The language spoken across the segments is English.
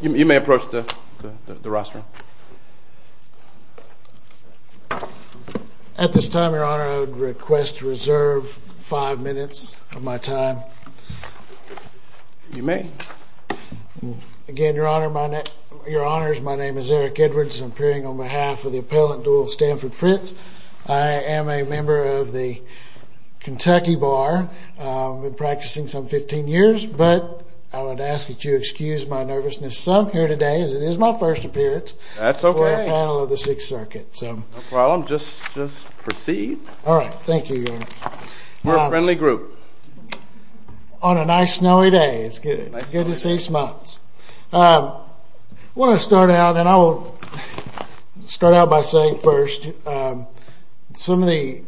You may approach the rostrum. At this time, Your Honor, I would request to reserve five minutes of my time. You may. Again, Your Honor, my name is Eric Edwards. I'm appearing on behalf of the appellant dual Stanford Fritts. I am a member of the Kentucky Bar. I've been practicing some 15 years, but I would ask that you excuse my nervousness some here today as it is my first appearance. That's okay. For a panel of the Sixth Circuit. No problem. Just proceed. All right. Thank you, Your Honor. We're a friendly group. On a nice snowy day. It's good. Good to see smiles. I want to start out, and I will start out by saying first, some of the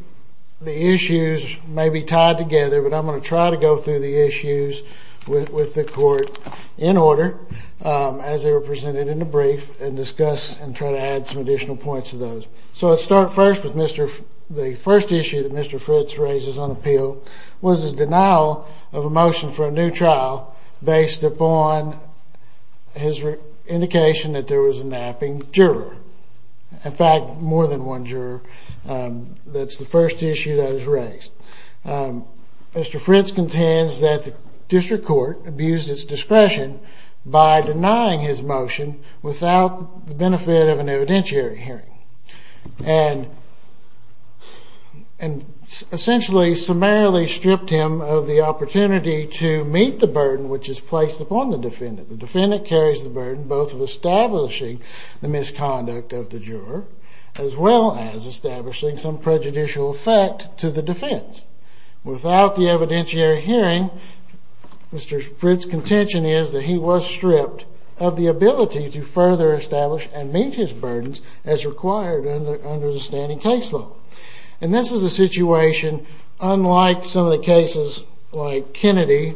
issues may be tied together, but I'm going to try to go through the issues with the court in order as they were presented in the brief and discuss and try to add some additional points to those. So let's start first with Mr. The first issue that Mr. Fritts raises on appeal was the fact that the United States Supreme Court has not raised a denial of a motion for a new trial based upon his indication that there was a napping juror. In fact, more than one juror. That's the first issue that was raised. Mr. Fritts contends that the district court abused its discretion by denying his motion without the benefit of an evidentiary hearing. And essentially summarily stripped him of the opportunity to meet the burden which is placed upon the defendant. The defendant carries the burden both of establishing the misconduct of the juror as well as establishing some prejudicial effect to the defense. Without the evidentiary hearing, Mr. Fritts' contention is that he was stripped of the ability to further establish and meet his burdens as required under the standing case law. And this is a situation unlike some of the cases like Kennedy,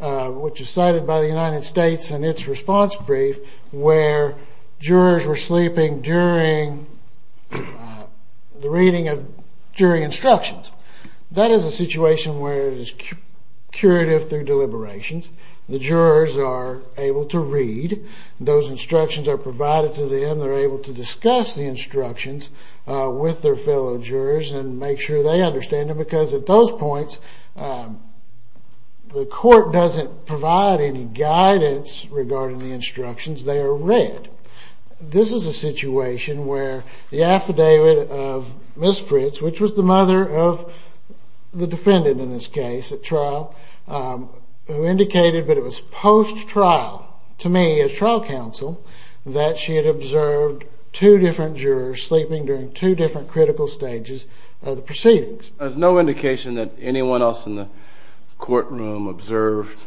which is cited by the United States in its response brief where jurors were sleeping during the reading of jury instructions. That is a situation where it is curative through deliberations. The jurors are able to read. Those instructions are provided to them. They're able to discuss the instructions with their fellow jurors and make sure they understand them because at those points the court doesn't provide any guidance regarding the instructions. They are read. This is a situation where the affidavit of Ms. Fritts, which was the mother of the defendant in this case at trial, who indicated that it was post-trial, to me as trial counsel, that she had observed two different jurors sleeping during two different critical stages of the proceedings. There's no indication that anyone else in the courtroom observed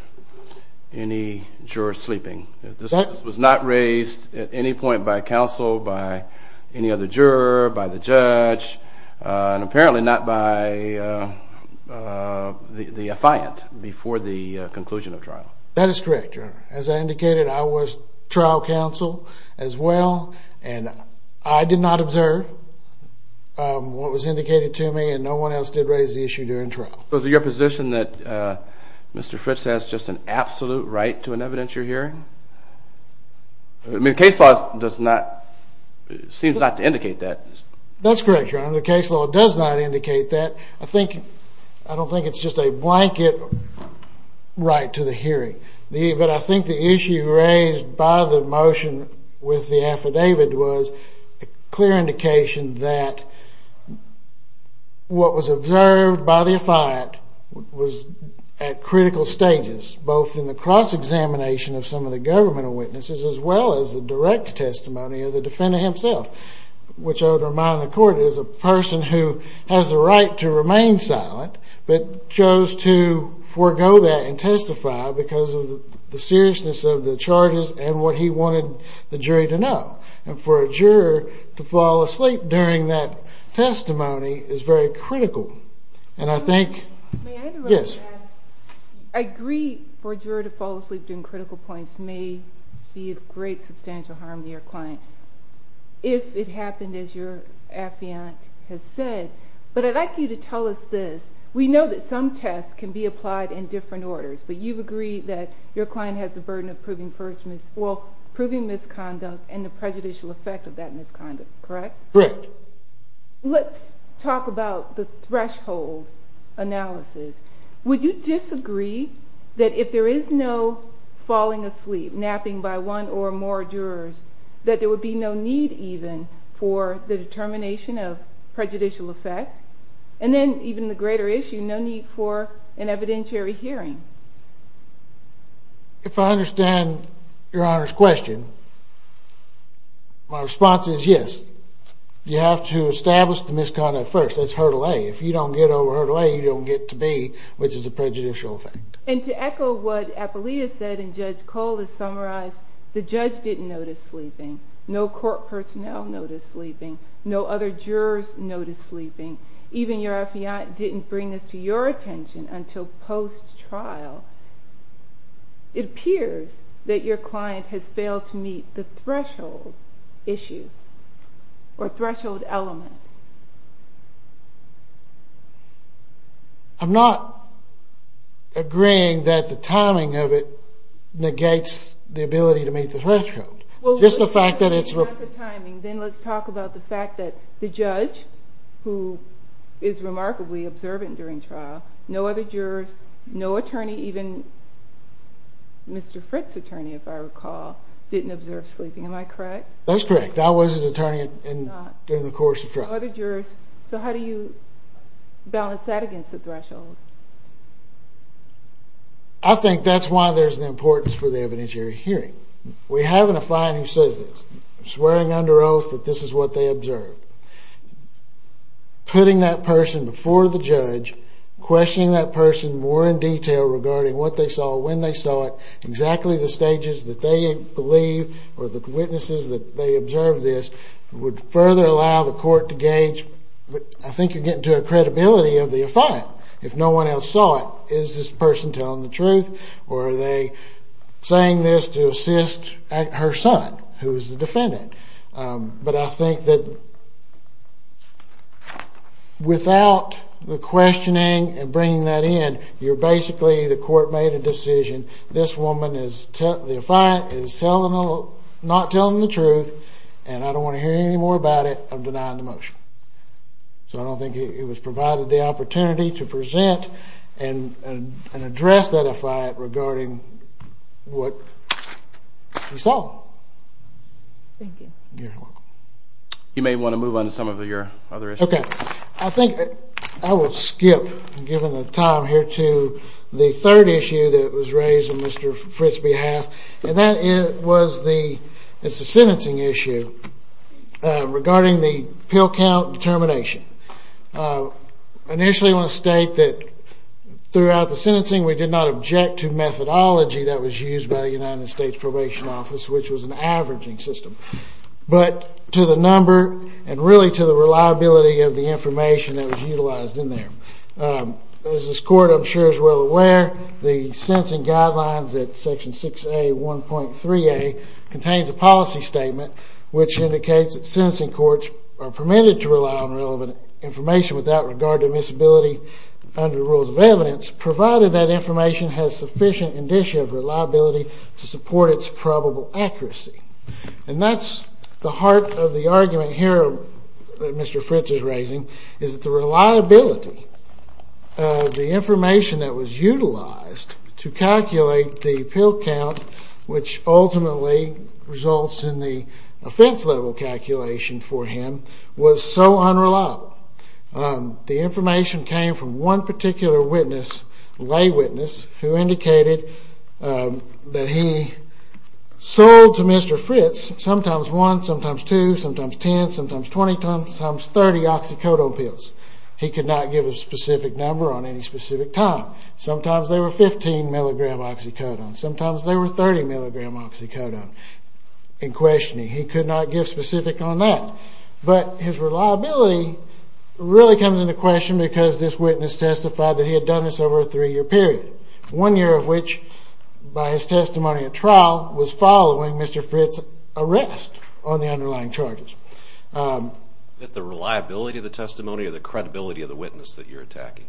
any jurors sleeping. This was not raised at any point by counsel, by any other juror, by the judge, and apparently not by the affiant before the conclusion of trial. That is correct, Your Honor. As I indicated, I was trial counsel as well, and I did not observe what was indicated to me, and no one else did raise the issue during trial. So is it your position that Mr. Fritts has just an absolute right to an evidentiary hearing? I mean, the case law does not, seems not to indicate that. That's correct, Your Honor. The case law does not indicate that. I don't think it's just a blanket right to the hearing, but I think the issue raised by the motion with the affidavit was a clear indication that what was observed by the affiant was at critical stages, both in the cross-examination of some of the governmental witnesses as well as the direct testimony of the defendant himself, which I would remind the court is a person who has a right to remain silent but chose to forego that and testify because of the seriousness of the charges and what he wanted the jury to know. And for a juror to fall asleep during that testimony is very critical. And I think... May I interrupt and ask? I agree for a juror to fall asleep during critical points may be of great substantial harm to your client if it happened as your affiant has said, but I'd like you to tell us this. We know that some tests can be applied in different orders, but you've agreed that your client has the burden of proving misconduct and the prejudicial effect of that misconduct, correct? Correct. Let's talk about the threshold analysis. Would you disagree that if there is no falling asleep, napping by one or more jurors, that there would be no need even for the determination of prejudicial effect? And then even the greater issue, no need for an evidentiary hearing? If I understand your Honor's question, my response is yes. You have to establish the misconduct first. That's hurdle A. If you don't get over hurdle A, you don't get to B, which is a prejudicial effect. And to echo what Apollia said and Judge Cole has summarized, the judge didn't notice sleeping. No court personnel noticed sleeping. No other jurors noticed sleeping. Even your affiant didn't bring this to your attention until post-trial. It appears that your client has failed to meet the threshold issue or threshold element. I'm not agreeing that the timing of it negates the ability to meet the threshold. Well, let's talk about the timing. Then let's talk about the fact that the judge, who is remarkably observant during trial, no other jurors, no attorney, even Mr. Fritt's attorney, if I recall, didn't observe sleeping. Am I correct? That's correct. I was his attorney during the course of trial. No other jurors. So how do you balance that against the threshold? I think that's why there's an importance for the evidentiary hearing. We have an affiant who says this, swearing under oath that this is what they observed. Putting that person before the judge, questioning that person more in detail regarding what they saw, when they saw it, exactly the stages that they believe or the witnesses that they observed this would further allow the court to gauge. I think you're getting to a credibility of the affiant. If no one else saw it, is this person telling the truth or are they saying this to assist her son, who is the defendant? But I think that without the questioning and bringing that in, basically the court made a decision, this woman, the affiant, is not telling the truth and I don't want to hear any more about it, I'm denying the motion. So I don't think it was provided the opportunity to present and address that affiant regarding what she saw. Thank you. You're welcome. You may want to move on to some of your other issues. Okay. I think I will skip, given the time here, to the third issue that was raised on Mr. Fritt's behalf and that was the sentencing issue regarding the pill count determination. Initially I want to state that throughout the sentencing we did not object to methodology that was used by the United States Probation Office, which was an averaging system, but to the number and really to the reliability of the information that was utilized in there. As this court, I'm sure, is well aware, the sentencing guidelines at section 6A, 1.3A contains a policy statement which indicates that sentencing courts are permitted to rely on relevant information without regard to admissibility under rules of evidence, provided that information has sufficient indicia of reliability to support its probable accuracy. And that's the heart of the argument here that Mr. Fritt is raising, is the reliability of the information that was utilized to calculate the pill count, which ultimately results in the offense level calculation for him, was so unreliable. The information came from one particular witness, lay witness, who indicated that he sold to Mr. Fritt's sometimes one, sometimes two, sometimes 10, sometimes 20, sometimes 30 oxycodone pills. He could not give a specific number on any specific time. Sometimes they were 15 milligram oxycodone. Sometimes they were 30 milligram oxycodone in questioning. He could not give specifics on that. But his reliability really comes into question because this witness testified that he had done this over a three-year period, one year of which, by his testimony at trial, was following Mr. Fritt's arrest on the underlying charges. Is it the reliability of the testimony or the credibility of the witness that you're attacking?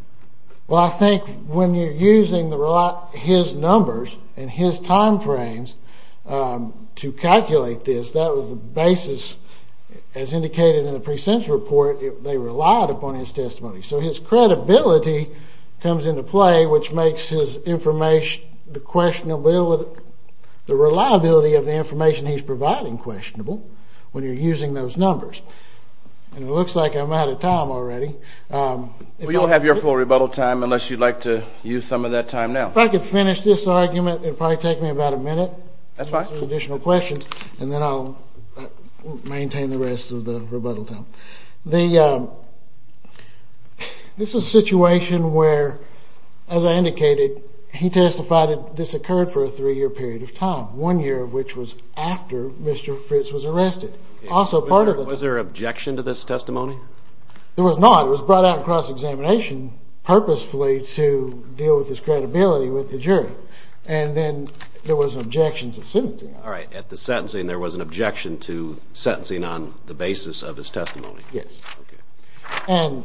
Well, I think when you're using his numbers and his time frames to calculate this, that was the basis, as indicated in the pre-sentence report, they relied upon his testimony. So his credibility comes into play, which makes his information, the reliability of the information he's providing questionable when you're using those numbers. And it looks like I'm out of time already. Well, you don't have your full rebuttal time unless you'd like to use some of that time now. If I could finish this argument, it would probably take me about a minute. That's fine. Some additional questions, and then I'll maintain the rest of the rebuttal time. This is a situation where, as I indicated, he testified that this occurred for a three-year period of time, one year of which was after Mr. Fritt's was arrested. Was there objection to this testimony? There was not. It was brought out in cross-examination purposefully to deal with his credibility with the jury. And then there was an objection to sentencing. All right. At the sentencing, there was an objection to sentencing on the basis of his testimony. Yes. Okay. And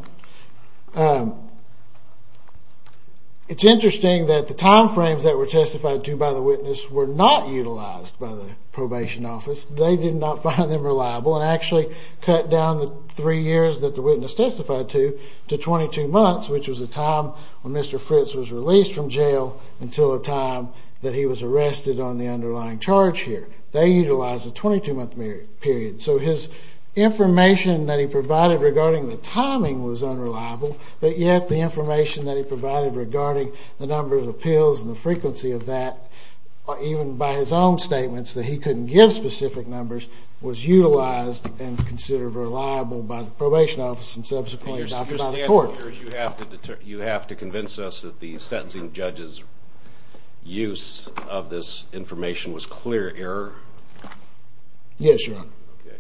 it's interesting that the time frames that were testified to by the witness were not utilized by the probation office. They did not find them reliable and actually cut down the three years that the witness testified to to 22 months, which was the time when Mr. Fritt's was released from jail until the time that he was arrested on the underlying charge here. They utilized a 22-month period. So his information that he provided regarding the timing was unreliable, but yet the information that he provided regarding the number of appeals and the frequency of that, even by his own statements that he couldn't give specific numbers, was utilized and considered reliable by the probation office and subsequently adopted by the court. You have to convince us that the sentencing judge's use of this information was clear error? Yes, Your Honor. Okay.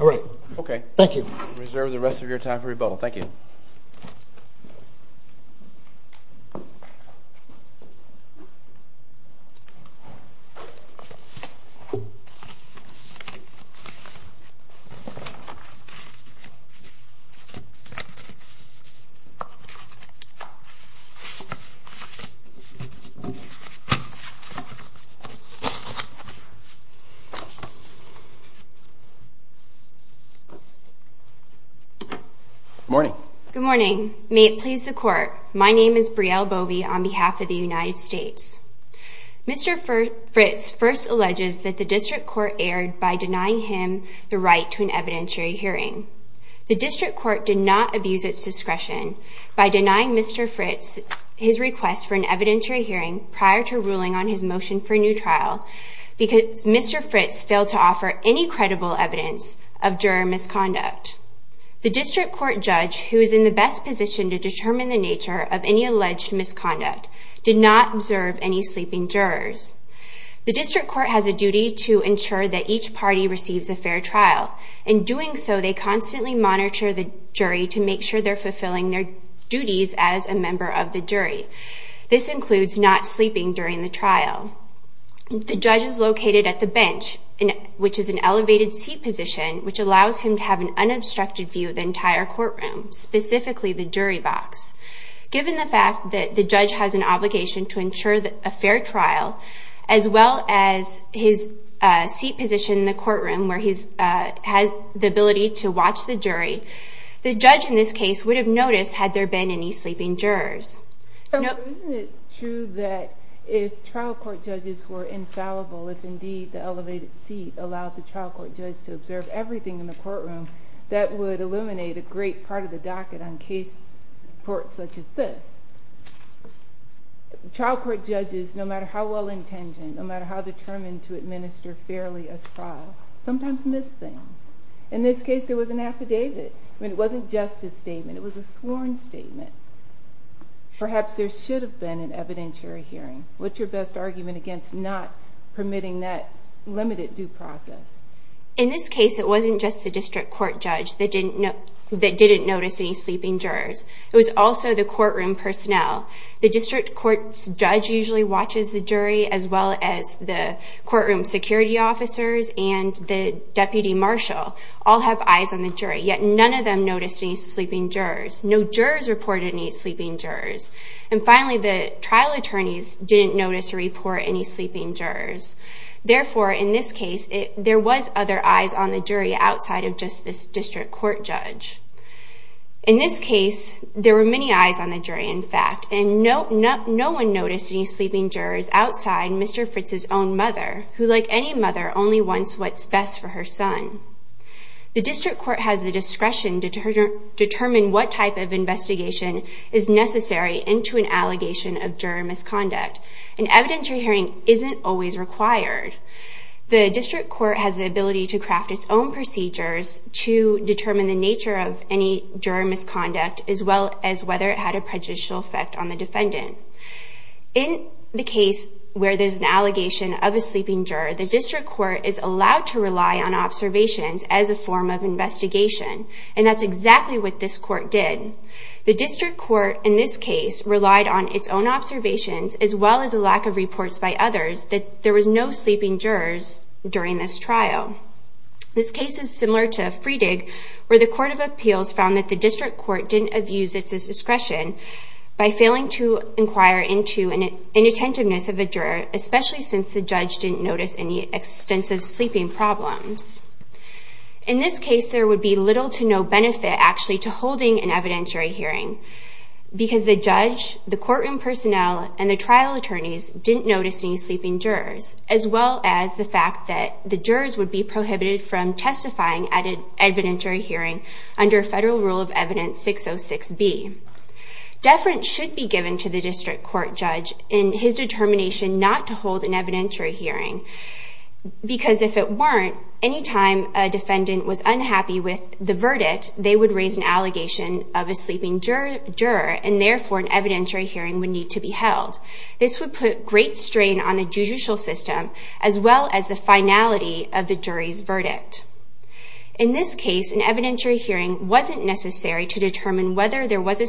All right. Okay. Thank you. We reserve the rest of your time for rebuttal. Thank you. Good morning. Good morning. May it please the court, my name is Brielle Bovee on behalf of the United States. Mr. Fritts first alleges that the district court erred by denying him the right to an evidentiary hearing. The district court did not abuse its discretion by denying Mr. Fritts his request for an evidentiary hearing prior to ruling on his of juror misconduct. The district court judge, who is in the best position to determine the nature of any alleged misconduct, did not observe any sleeping jurors. The district court has a duty to ensure that each party receives a fair trial. In doing so, they constantly monitor the jury to make sure they're fulfilling their duties as a member of the jury. This includes not sleeping during the trial. The judge is located at the bench, which is an elevated seat position, which allows him to have an unobstructed view of the entire courtroom, specifically the jury box. Given the fact that the judge has an obligation to ensure a fair trial, as well as his seat position in the courtroom where he has the ability to watch the jury, the judge in this case would have noticed had there been any sleeping jurors. Isn't it true that if trial court judges were infallible, if indeed the elevated seat allowed the trial court judge to observe everything in the courtroom, that would eliminate a great part of the docket on case reports such as this? Trial court judges, no matter how well-intentioned, no matter how determined to administer fairly a trial, sometimes miss things. In this case, there was an affidavit. It wasn't just a statement. It was a sworn statement. Perhaps there should have been an evidentiary hearing. What's your best argument against not permitting that limited due process? In this case, it wasn't just the district court judge that didn't notice any sleeping jurors. It was also the courtroom personnel. The district court judge usually watches the jury, as well as the courtroom security officers and the deputy marshal all have eyes on the jury. Yet none of them noticed any sleeping jurors. No jurors reported any sleeping jurors. And finally, the trial attorneys didn't notice or report any sleeping jurors. Therefore, in this case, there was other eyes on the jury outside of just this district court judge. In this case, there were many eyes on the jury, in fact, and no one noticed any sleeping jurors outside Mr. Fritz's own mother, who, like any mother, only wants what's best for her son. The district court has the discretion to determine what type of investigation is necessary into an allegation of juror misconduct. An evidentiary hearing isn't always required. The district court has the ability to craft its own procedures to determine the nature of any juror misconduct, as well as whether it had a prejudicial effect on the defendant. In the case where there's an allegation of a sleeping juror, the district court is allowed to rely on observations as a form of investigation. And that's exactly what this court did. The district court, in this case, relied on its own observations, as well as a lack of reports by others, that there was no sleeping jurors during this trial. This case is similar to Freedig, where the Court of Appeals found that the district court didn't abuse its discretion by failing to inquire into an inattentiveness of a juror, especially since the judge didn't notice any extensive sleeping problems. In this case, there would be little to no benefit, actually, to holding an evidentiary hearing, because the judge, the courtroom personnel, and the trial attorneys didn't notice any sleeping jurors, as well as the fact that the jurors would be prohibited from testifying at an evidentiary hearing under Federal Rule of Evidence 606B. Deference should be given to the district court judge in his determination not to hold an evidentiary hearing, because if it weren't, any time a defendant was unhappy with the verdict, they would raise an allegation of a sleeping juror, and therefore an evidentiary hearing would need to be held. This would put great strain on the judicial system, as well as the finality of the jury's verdict. In this case, an evidentiary hearing wasn't necessary to determine whether there was a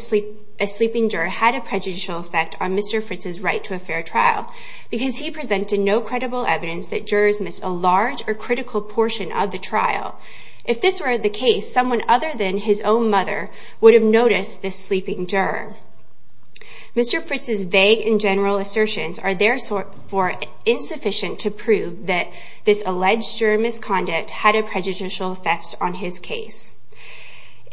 sleeping juror had a prejudicial effect on Mr. Fritz's right to a fair trial, because he presented no credible evidence that jurors missed a large or critical portion of the trial. If this were the case, someone other than his own mother would have noticed this sleeping juror. Mr. Fritz's vague and general assertions are therefore insufficient to prove that this alleged juror misconduct had a prejudicial effect on his case.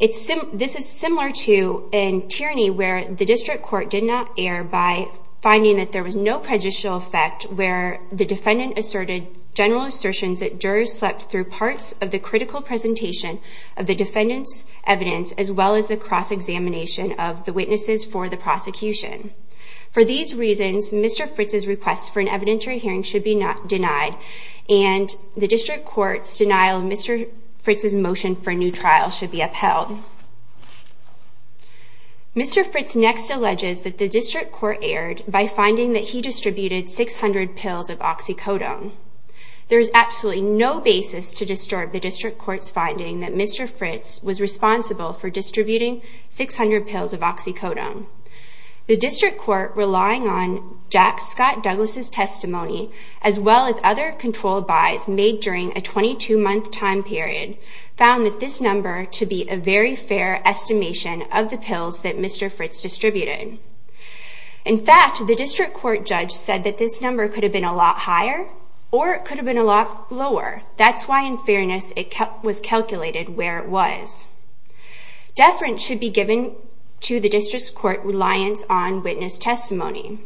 This is similar to a tyranny where the district court did not err by finding that there was no prejudicial effect where the defendant asserted general assertions that jurors slept through parts of the critical presentation of the defendant's evidence, as well as the cross-examination of the witnesses for the prosecution. For these reasons, Mr. Fritz's request for an evidentiary hearing should be denied, and the district court's denial of Mr. Fritz's motion for a new trial should be upheld. Mr. Fritz next alleges that the district court erred by finding that he distributed 600 pills of oxycodone. There is absolutely no basis to disturb the district court's finding that Mr. Fritz was responsible for distributing 600 pills of oxycodone. The district court, relying on Jack Scott Douglas' testimony, as well as other controlled buys made during a 22-month time period, found that this number to be a very fair estimation of the pills that Mr. Fritz distributed. In fact, the district court judge said that this number could have been a lot higher or it could have been a lot lower. That's why, in fairness, it was calculated where it was. Deference should be given to the district court's reliance on witness testimony.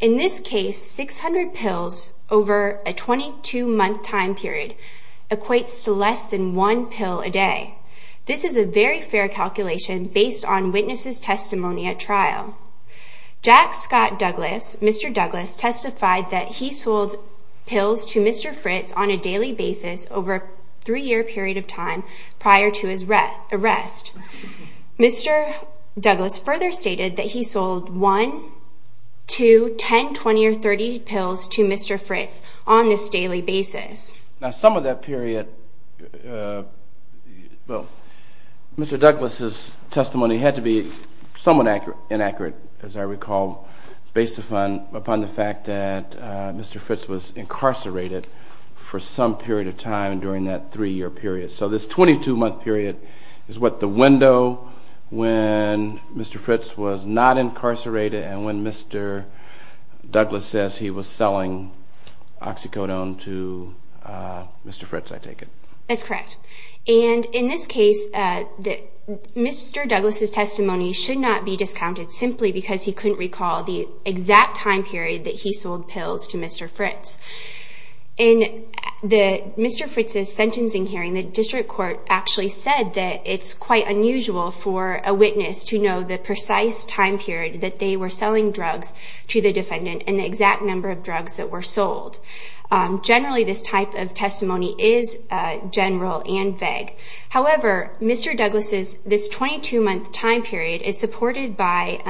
In this case, 600 pills over a 22-month time period equates to less than one pill a day. This is a very fair calculation based on witnesses' testimony at trial. Jack Scott Douglas, Mr. Douglas, testified that he sold pills to Mr. Fritz on a daily basis over a three-year period of time prior to his arrest. Mr. Douglas further stated that he sold one, two, ten, twenty, or thirty pills to Mr. Fritz on this daily basis. Now, some of that period, Mr. Douglas' testimony had to be somewhat inaccurate, as I recall, based upon the fact that Mr. Fritz was incarcerated for some period of time during that three-year period. So this 22-month period is what the window when Mr. Fritz was not incarcerated and when Mr. Douglas says he was selling oxycodone to Mr. Fritz, I take it? That's correct. And in this case, Mr. Douglas' testimony should not be discounted simply because he couldn't recall the exact time period that he sold pills to Mr. Fritz. In Mr. Fritz's sentencing hearing, the district court actually said that it's quite unusual for a witness to know the precise time period that they were selling drugs to the defendant and the exact number of drugs that were sold. Generally, this type of testimony is general and vague. However, Mr. Douglas' 22-month time period is supported by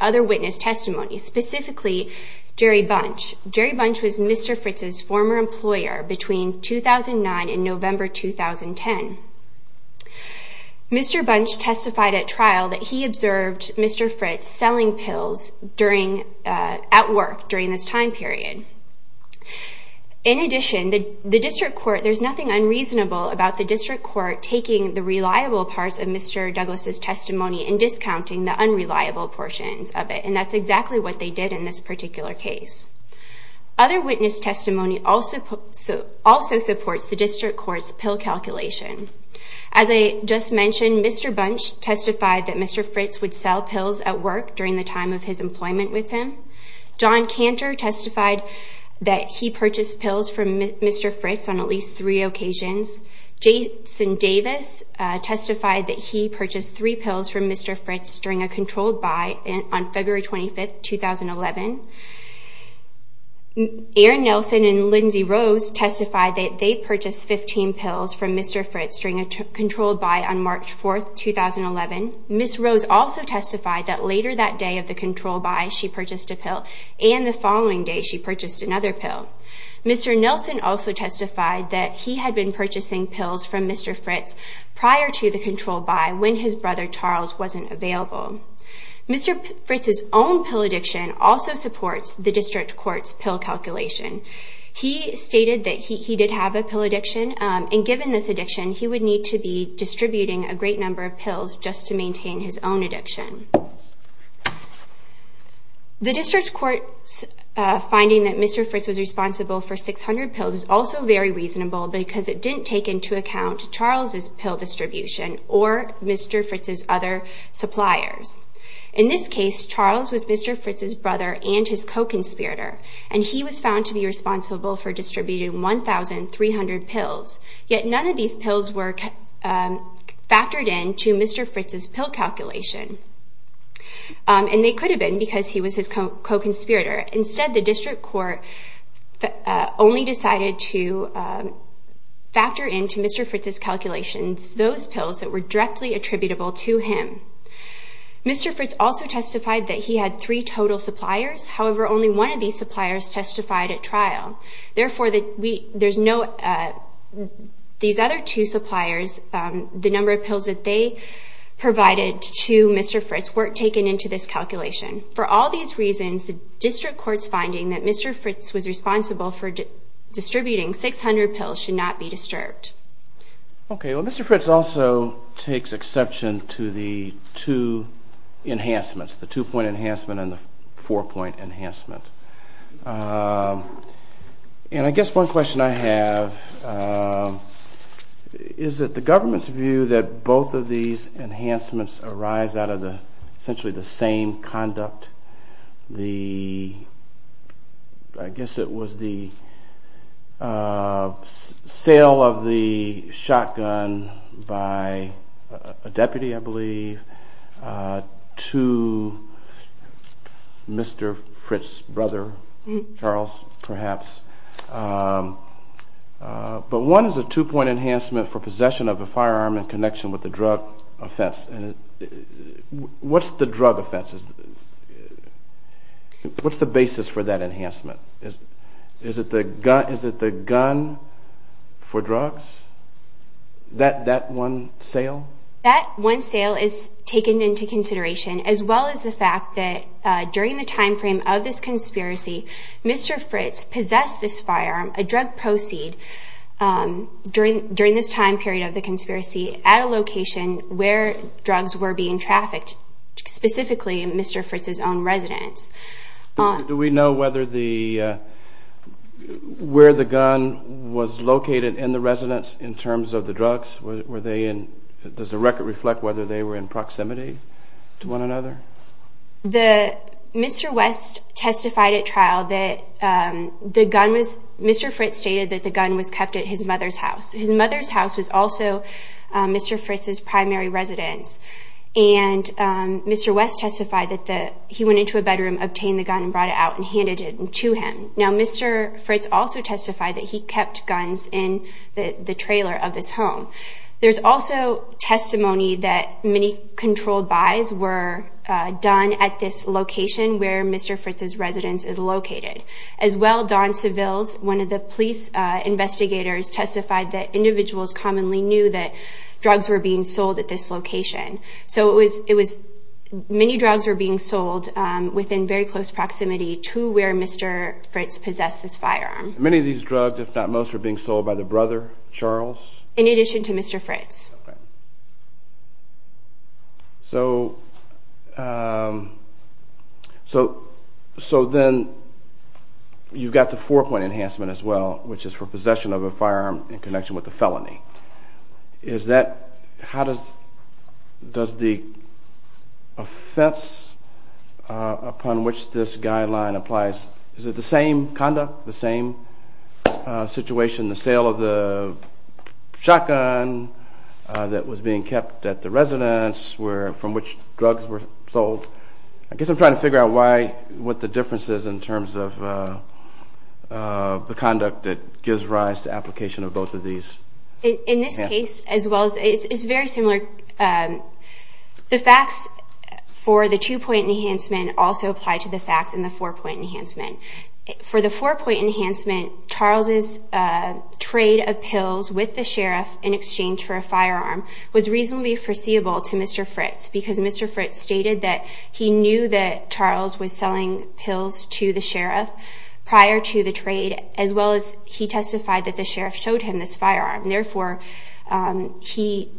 other witness testimony, specifically Jerry Bunch. Jerry Bunch was Mr. Fritz's former employer between 2009 and November 2010. Mr. Bunch testified at trial that he observed Mr. Fritz selling pills at work during this time period. In addition, there's nothing unreasonable about the district court taking the reliable parts of Mr. Douglas' testimony and discounting the unreliable portions of it, and that's exactly what they did in this particular case. Other witness testimony also supports the district court's pill calculation. As I just mentioned, Mr. Bunch testified that Mr. Fritz would sell pills at work during the time of his employment with him. John Cantor testified that he purchased pills from Mr. Fritz on at least three occasions. Jason Davis testified that he purchased three pills from Mr. Fritz during a controlled buy on February 25, 2011. Erin Nelson and Lindsay Rose testified that they purchased 15 pills from Mr. Fritz during a controlled buy on March 4, 2011. Ms. Rose also testified that later that day of the controlled buy, she purchased a pill, and the following day she purchased another pill. Mr. Nelson also testified that he had been purchasing pills from Mr. Fritz prior to the controlled buy when his brother Charles wasn't available. Mr. Fritz's own pill addiction also supports the district court's pill calculation. He stated that he did have a pill addiction, and given this addiction, he would need to be distributing a great number of pills just to maintain his own addiction. The district court's finding that Mr. Fritz was responsible for 600 pills is also very reasonable because it didn't take into account Charles's pill distribution or Mr. Fritz's other suppliers. In this case, Charles was Mr. Fritz's brother and his co-conspirator, and he was found to be responsible for distributing 1,300 pills, yet none of these pills were factored into Mr. Fritz's pill calculation, and they could have been because he was his co-conspirator. Instead, the district court only decided to factor into Mr. Fritz's calculations those pills that were directly attributable to him. Mr. Fritz also testified that he had three total suppliers. However, only one of these suppliers testified at trial. Therefore, these other two suppliers, the number of pills that they provided to Mr. Fritz, weren't taken into this calculation. For all these reasons, the district court's finding that Mr. Fritz was responsible for distributing 600 pills should not be disturbed. Okay. Well, Mr. Fritz also takes exception to the two enhancements, the two-point enhancement and the four-point enhancement. And I guess one question I have is that the government's view that both of these enhancements arise out of essentially the same conduct, I guess it was the sale of the shotgun by a deputy, I believe, to Mr. Fritz's brother, Charles, perhaps. But one is a two-point enhancement for possession of a firearm in connection with a drug offense. What's the drug offense? What's the basis for that enhancement? Is it the gun for drugs, that one sale? That one sale is taken into consideration, as well as the fact that during the timeframe of this conspiracy, Mr. Fritz possessed this firearm, a drug proceed, during this time period of the conspiracy, at a location where drugs were being trafficked, specifically in Mr. Fritz's own residence. Do we know where the gun was located in the residence in terms of the drugs? Does the record reflect whether they were in proximity to one another? Mr. West testified at trial that the gun was—Mr. Fritz stated that the gun was kept at his mother's house. His mother's house was also Mr. Fritz's primary residence. And Mr. West testified that he went into a bedroom, obtained the gun, and brought it out and handed it to him. Now, Mr. Fritz also testified that he kept guns in the trailer of this home. There's also testimony that many controlled buys were done at this location where Mr. Fritz's residence is located. As well, Don Seville, one of the police investigators, testified that individuals commonly knew that drugs were being sold at this location. So it was—many drugs were being sold within very close proximity to where Mr. Fritz possessed this firearm. Many of these drugs, if not most, were being sold by the brother, Charles? In addition to Mr. Fritz. So then you've got the four-point enhancement as well, which is for possession of a firearm in connection with a felony. Is that—how does the offense upon which this guideline applies—is it the same conduct, the same situation? The sale of the shotgun that was being kept at the residence from which drugs were sold? I guess I'm trying to figure out what the difference is in terms of the conduct that gives rise to application of both of these. In this case, as well, it's very similar. The facts for the two-point enhancement also apply to the facts in the four-point enhancement. For the four-point enhancement, Charles' trade of pills with the sheriff in exchange for a firearm was reasonably foreseeable to Mr. Fritz, because Mr. Fritz stated that he knew that Charles was selling pills to the sheriff prior to the trade, as well as he testified that the sheriff showed him this firearm. Therefore, he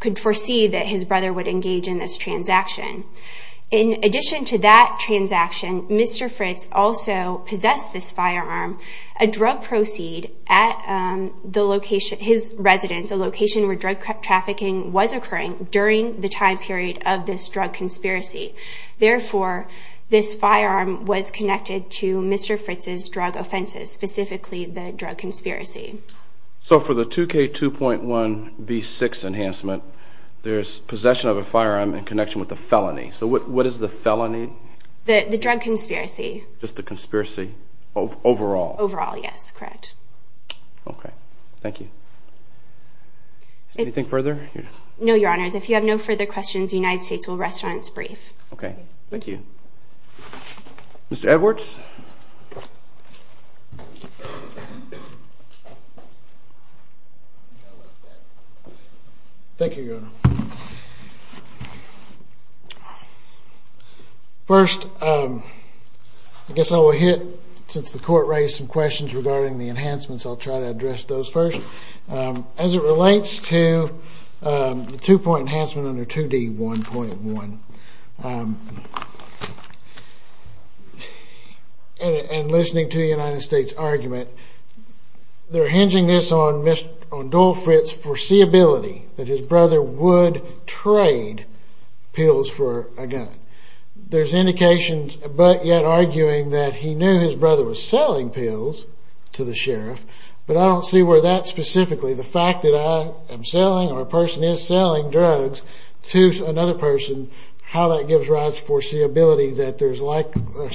could foresee that his brother would engage in this transaction. In addition to that transaction, Mr. Fritz also possessed this firearm, a drug proceed at his residence, a location where drug trafficking was occurring during the time period of this drug conspiracy. Therefore, this firearm was connected to Mr. Fritz's drug offenses, specifically the drug conspiracy. So for the 2K2.1B6 enhancement, there's possession of a firearm in connection with a felony. So what is the felony? The drug conspiracy. Just the conspiracy overall? Overall, yes, correct. Okay, thank you. Anything further? No, Your Honors. If you have no further questions, the United States will rest on its brief. Okay, thank you. Mr. Edwards? Thank you, Your Honor. First, I guess I will hit, since the Court raised some questions regarding the enhancements, I'll try to address those first. As it relates to the two-point enhancement under 2D1.1, and listening to the United States' argument, they're hinging this on Dole Fritz's foreseeability that his brother would trade pills for a gun. There's indications, but yet arguing, that he knew his brother was selling pills to the sheriff, but I don't see where that specifically, the fact that I am selling or a person is selling drugs to another person, how that gives rise to foreseeability that there's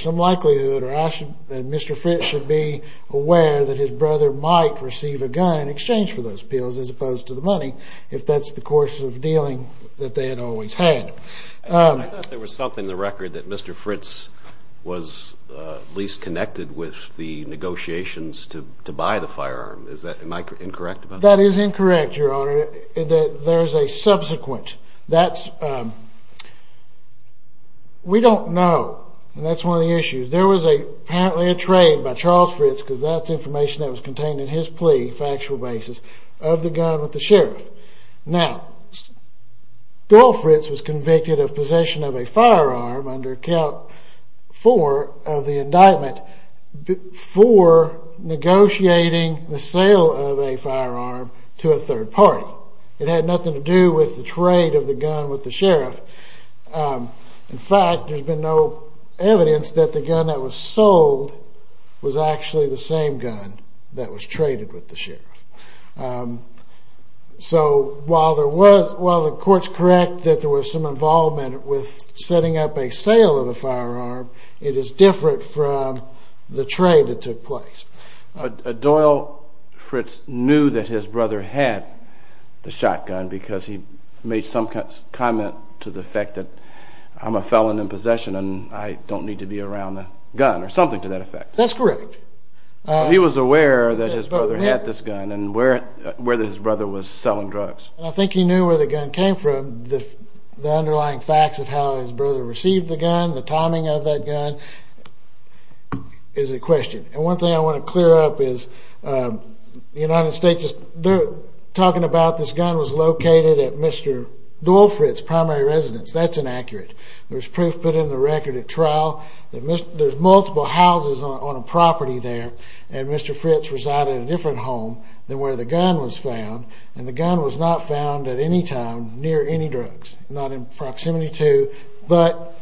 some likelihood that Mr. Fritz should be aware that his brother might receive a gun in exchange for those pills, as opposed to the money, if that's the course of dealing that they had always had. I thought there was something in the record that Mr. Fritz was least connected with the negotiations to buy the firearm. Is that, am I incorrect about that? That is incorrect, Your Honor. There's a subsequent, that's, we don't know, and that's one of the issues. There was apparently a trade by Charles Fritz, because that's information that was contained in his plea, factual basis, of the gun with the sheriff. Now, Bill Fritz was convicted of possession of a firearm under count four of the indictment before negotiating the sale of a firearm to a third party. It had nothing to do with the trade of the gun with the sheriff. In fact, there's been no evidence that the gun that was sold was actually the same gun that was traded with the sheriff. So, while the court's correct that there was some involvement with setting up a sale of a firearm, it is different from the trade that took place. Doyle Fritz knew that his brother had the shotgun because he made some comment to the fact that I'm a felon in possession and I don't need to be around a gun, or something to that effect. That's correct. He was aware that his brother had this gun and where his brother was selling drugs. I think he knew where the gun came from. The underlying facts of how his brother received the gun, the timing of that gun, is a question. And one thing I want to clear up is, the United States, talking about this gun, was located at Mr. Doyle Fritz' primary residence. That's inaccurate. There's proof put in the record at trial that there's multiple houses on a property there. And Mr. Fritz resided in a different home than where the gun was found. And the gun was not found at any time near any drugs. Not in proximity to, but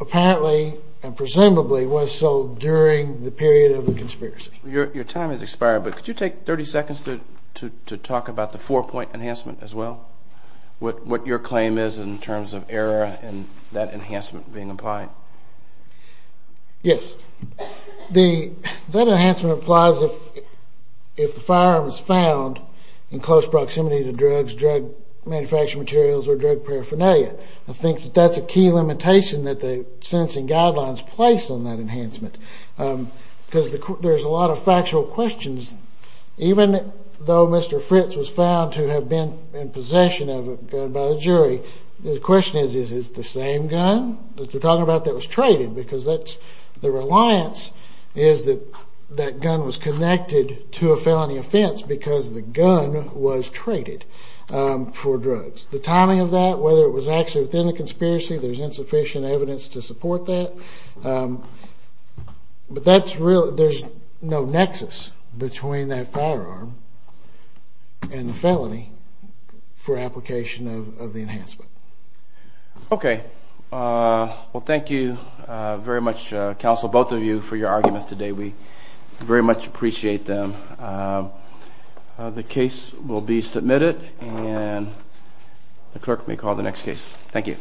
apparently and presumably was sold during the period of the conspiracy. Your time has expired, but could you take 30 seconds to talk about the four-point enhancement as well? What your claim is in terms of error and that enhancement being applied. Yes. That enhancement applies if the firearm is found in close proximity to drugs, drug manufacturing materials, or drug paraphernalia. I think that that's a key limitation that the sentencing guidelines place on that enhancement. Because there's a lot of factual questions. Even though Mr. Fritz was found to have been in possession of a gun by a jury, the question is, is it the same gun that you're talking about that was traded? Because the reliance is that that gun was connected to a felony offense because the gun was traded for drugs. The timing of that, whether it was actually within the conspiracy, there's insufficient evidence to support that. But there's no nexus between that firearm and the felony for application of the enhancement. Okay. Well, thank you very much, counsel, both of you for your arguments today. We very much appreciate them. The case will be submitted and the clerk may call the next case. Thank you.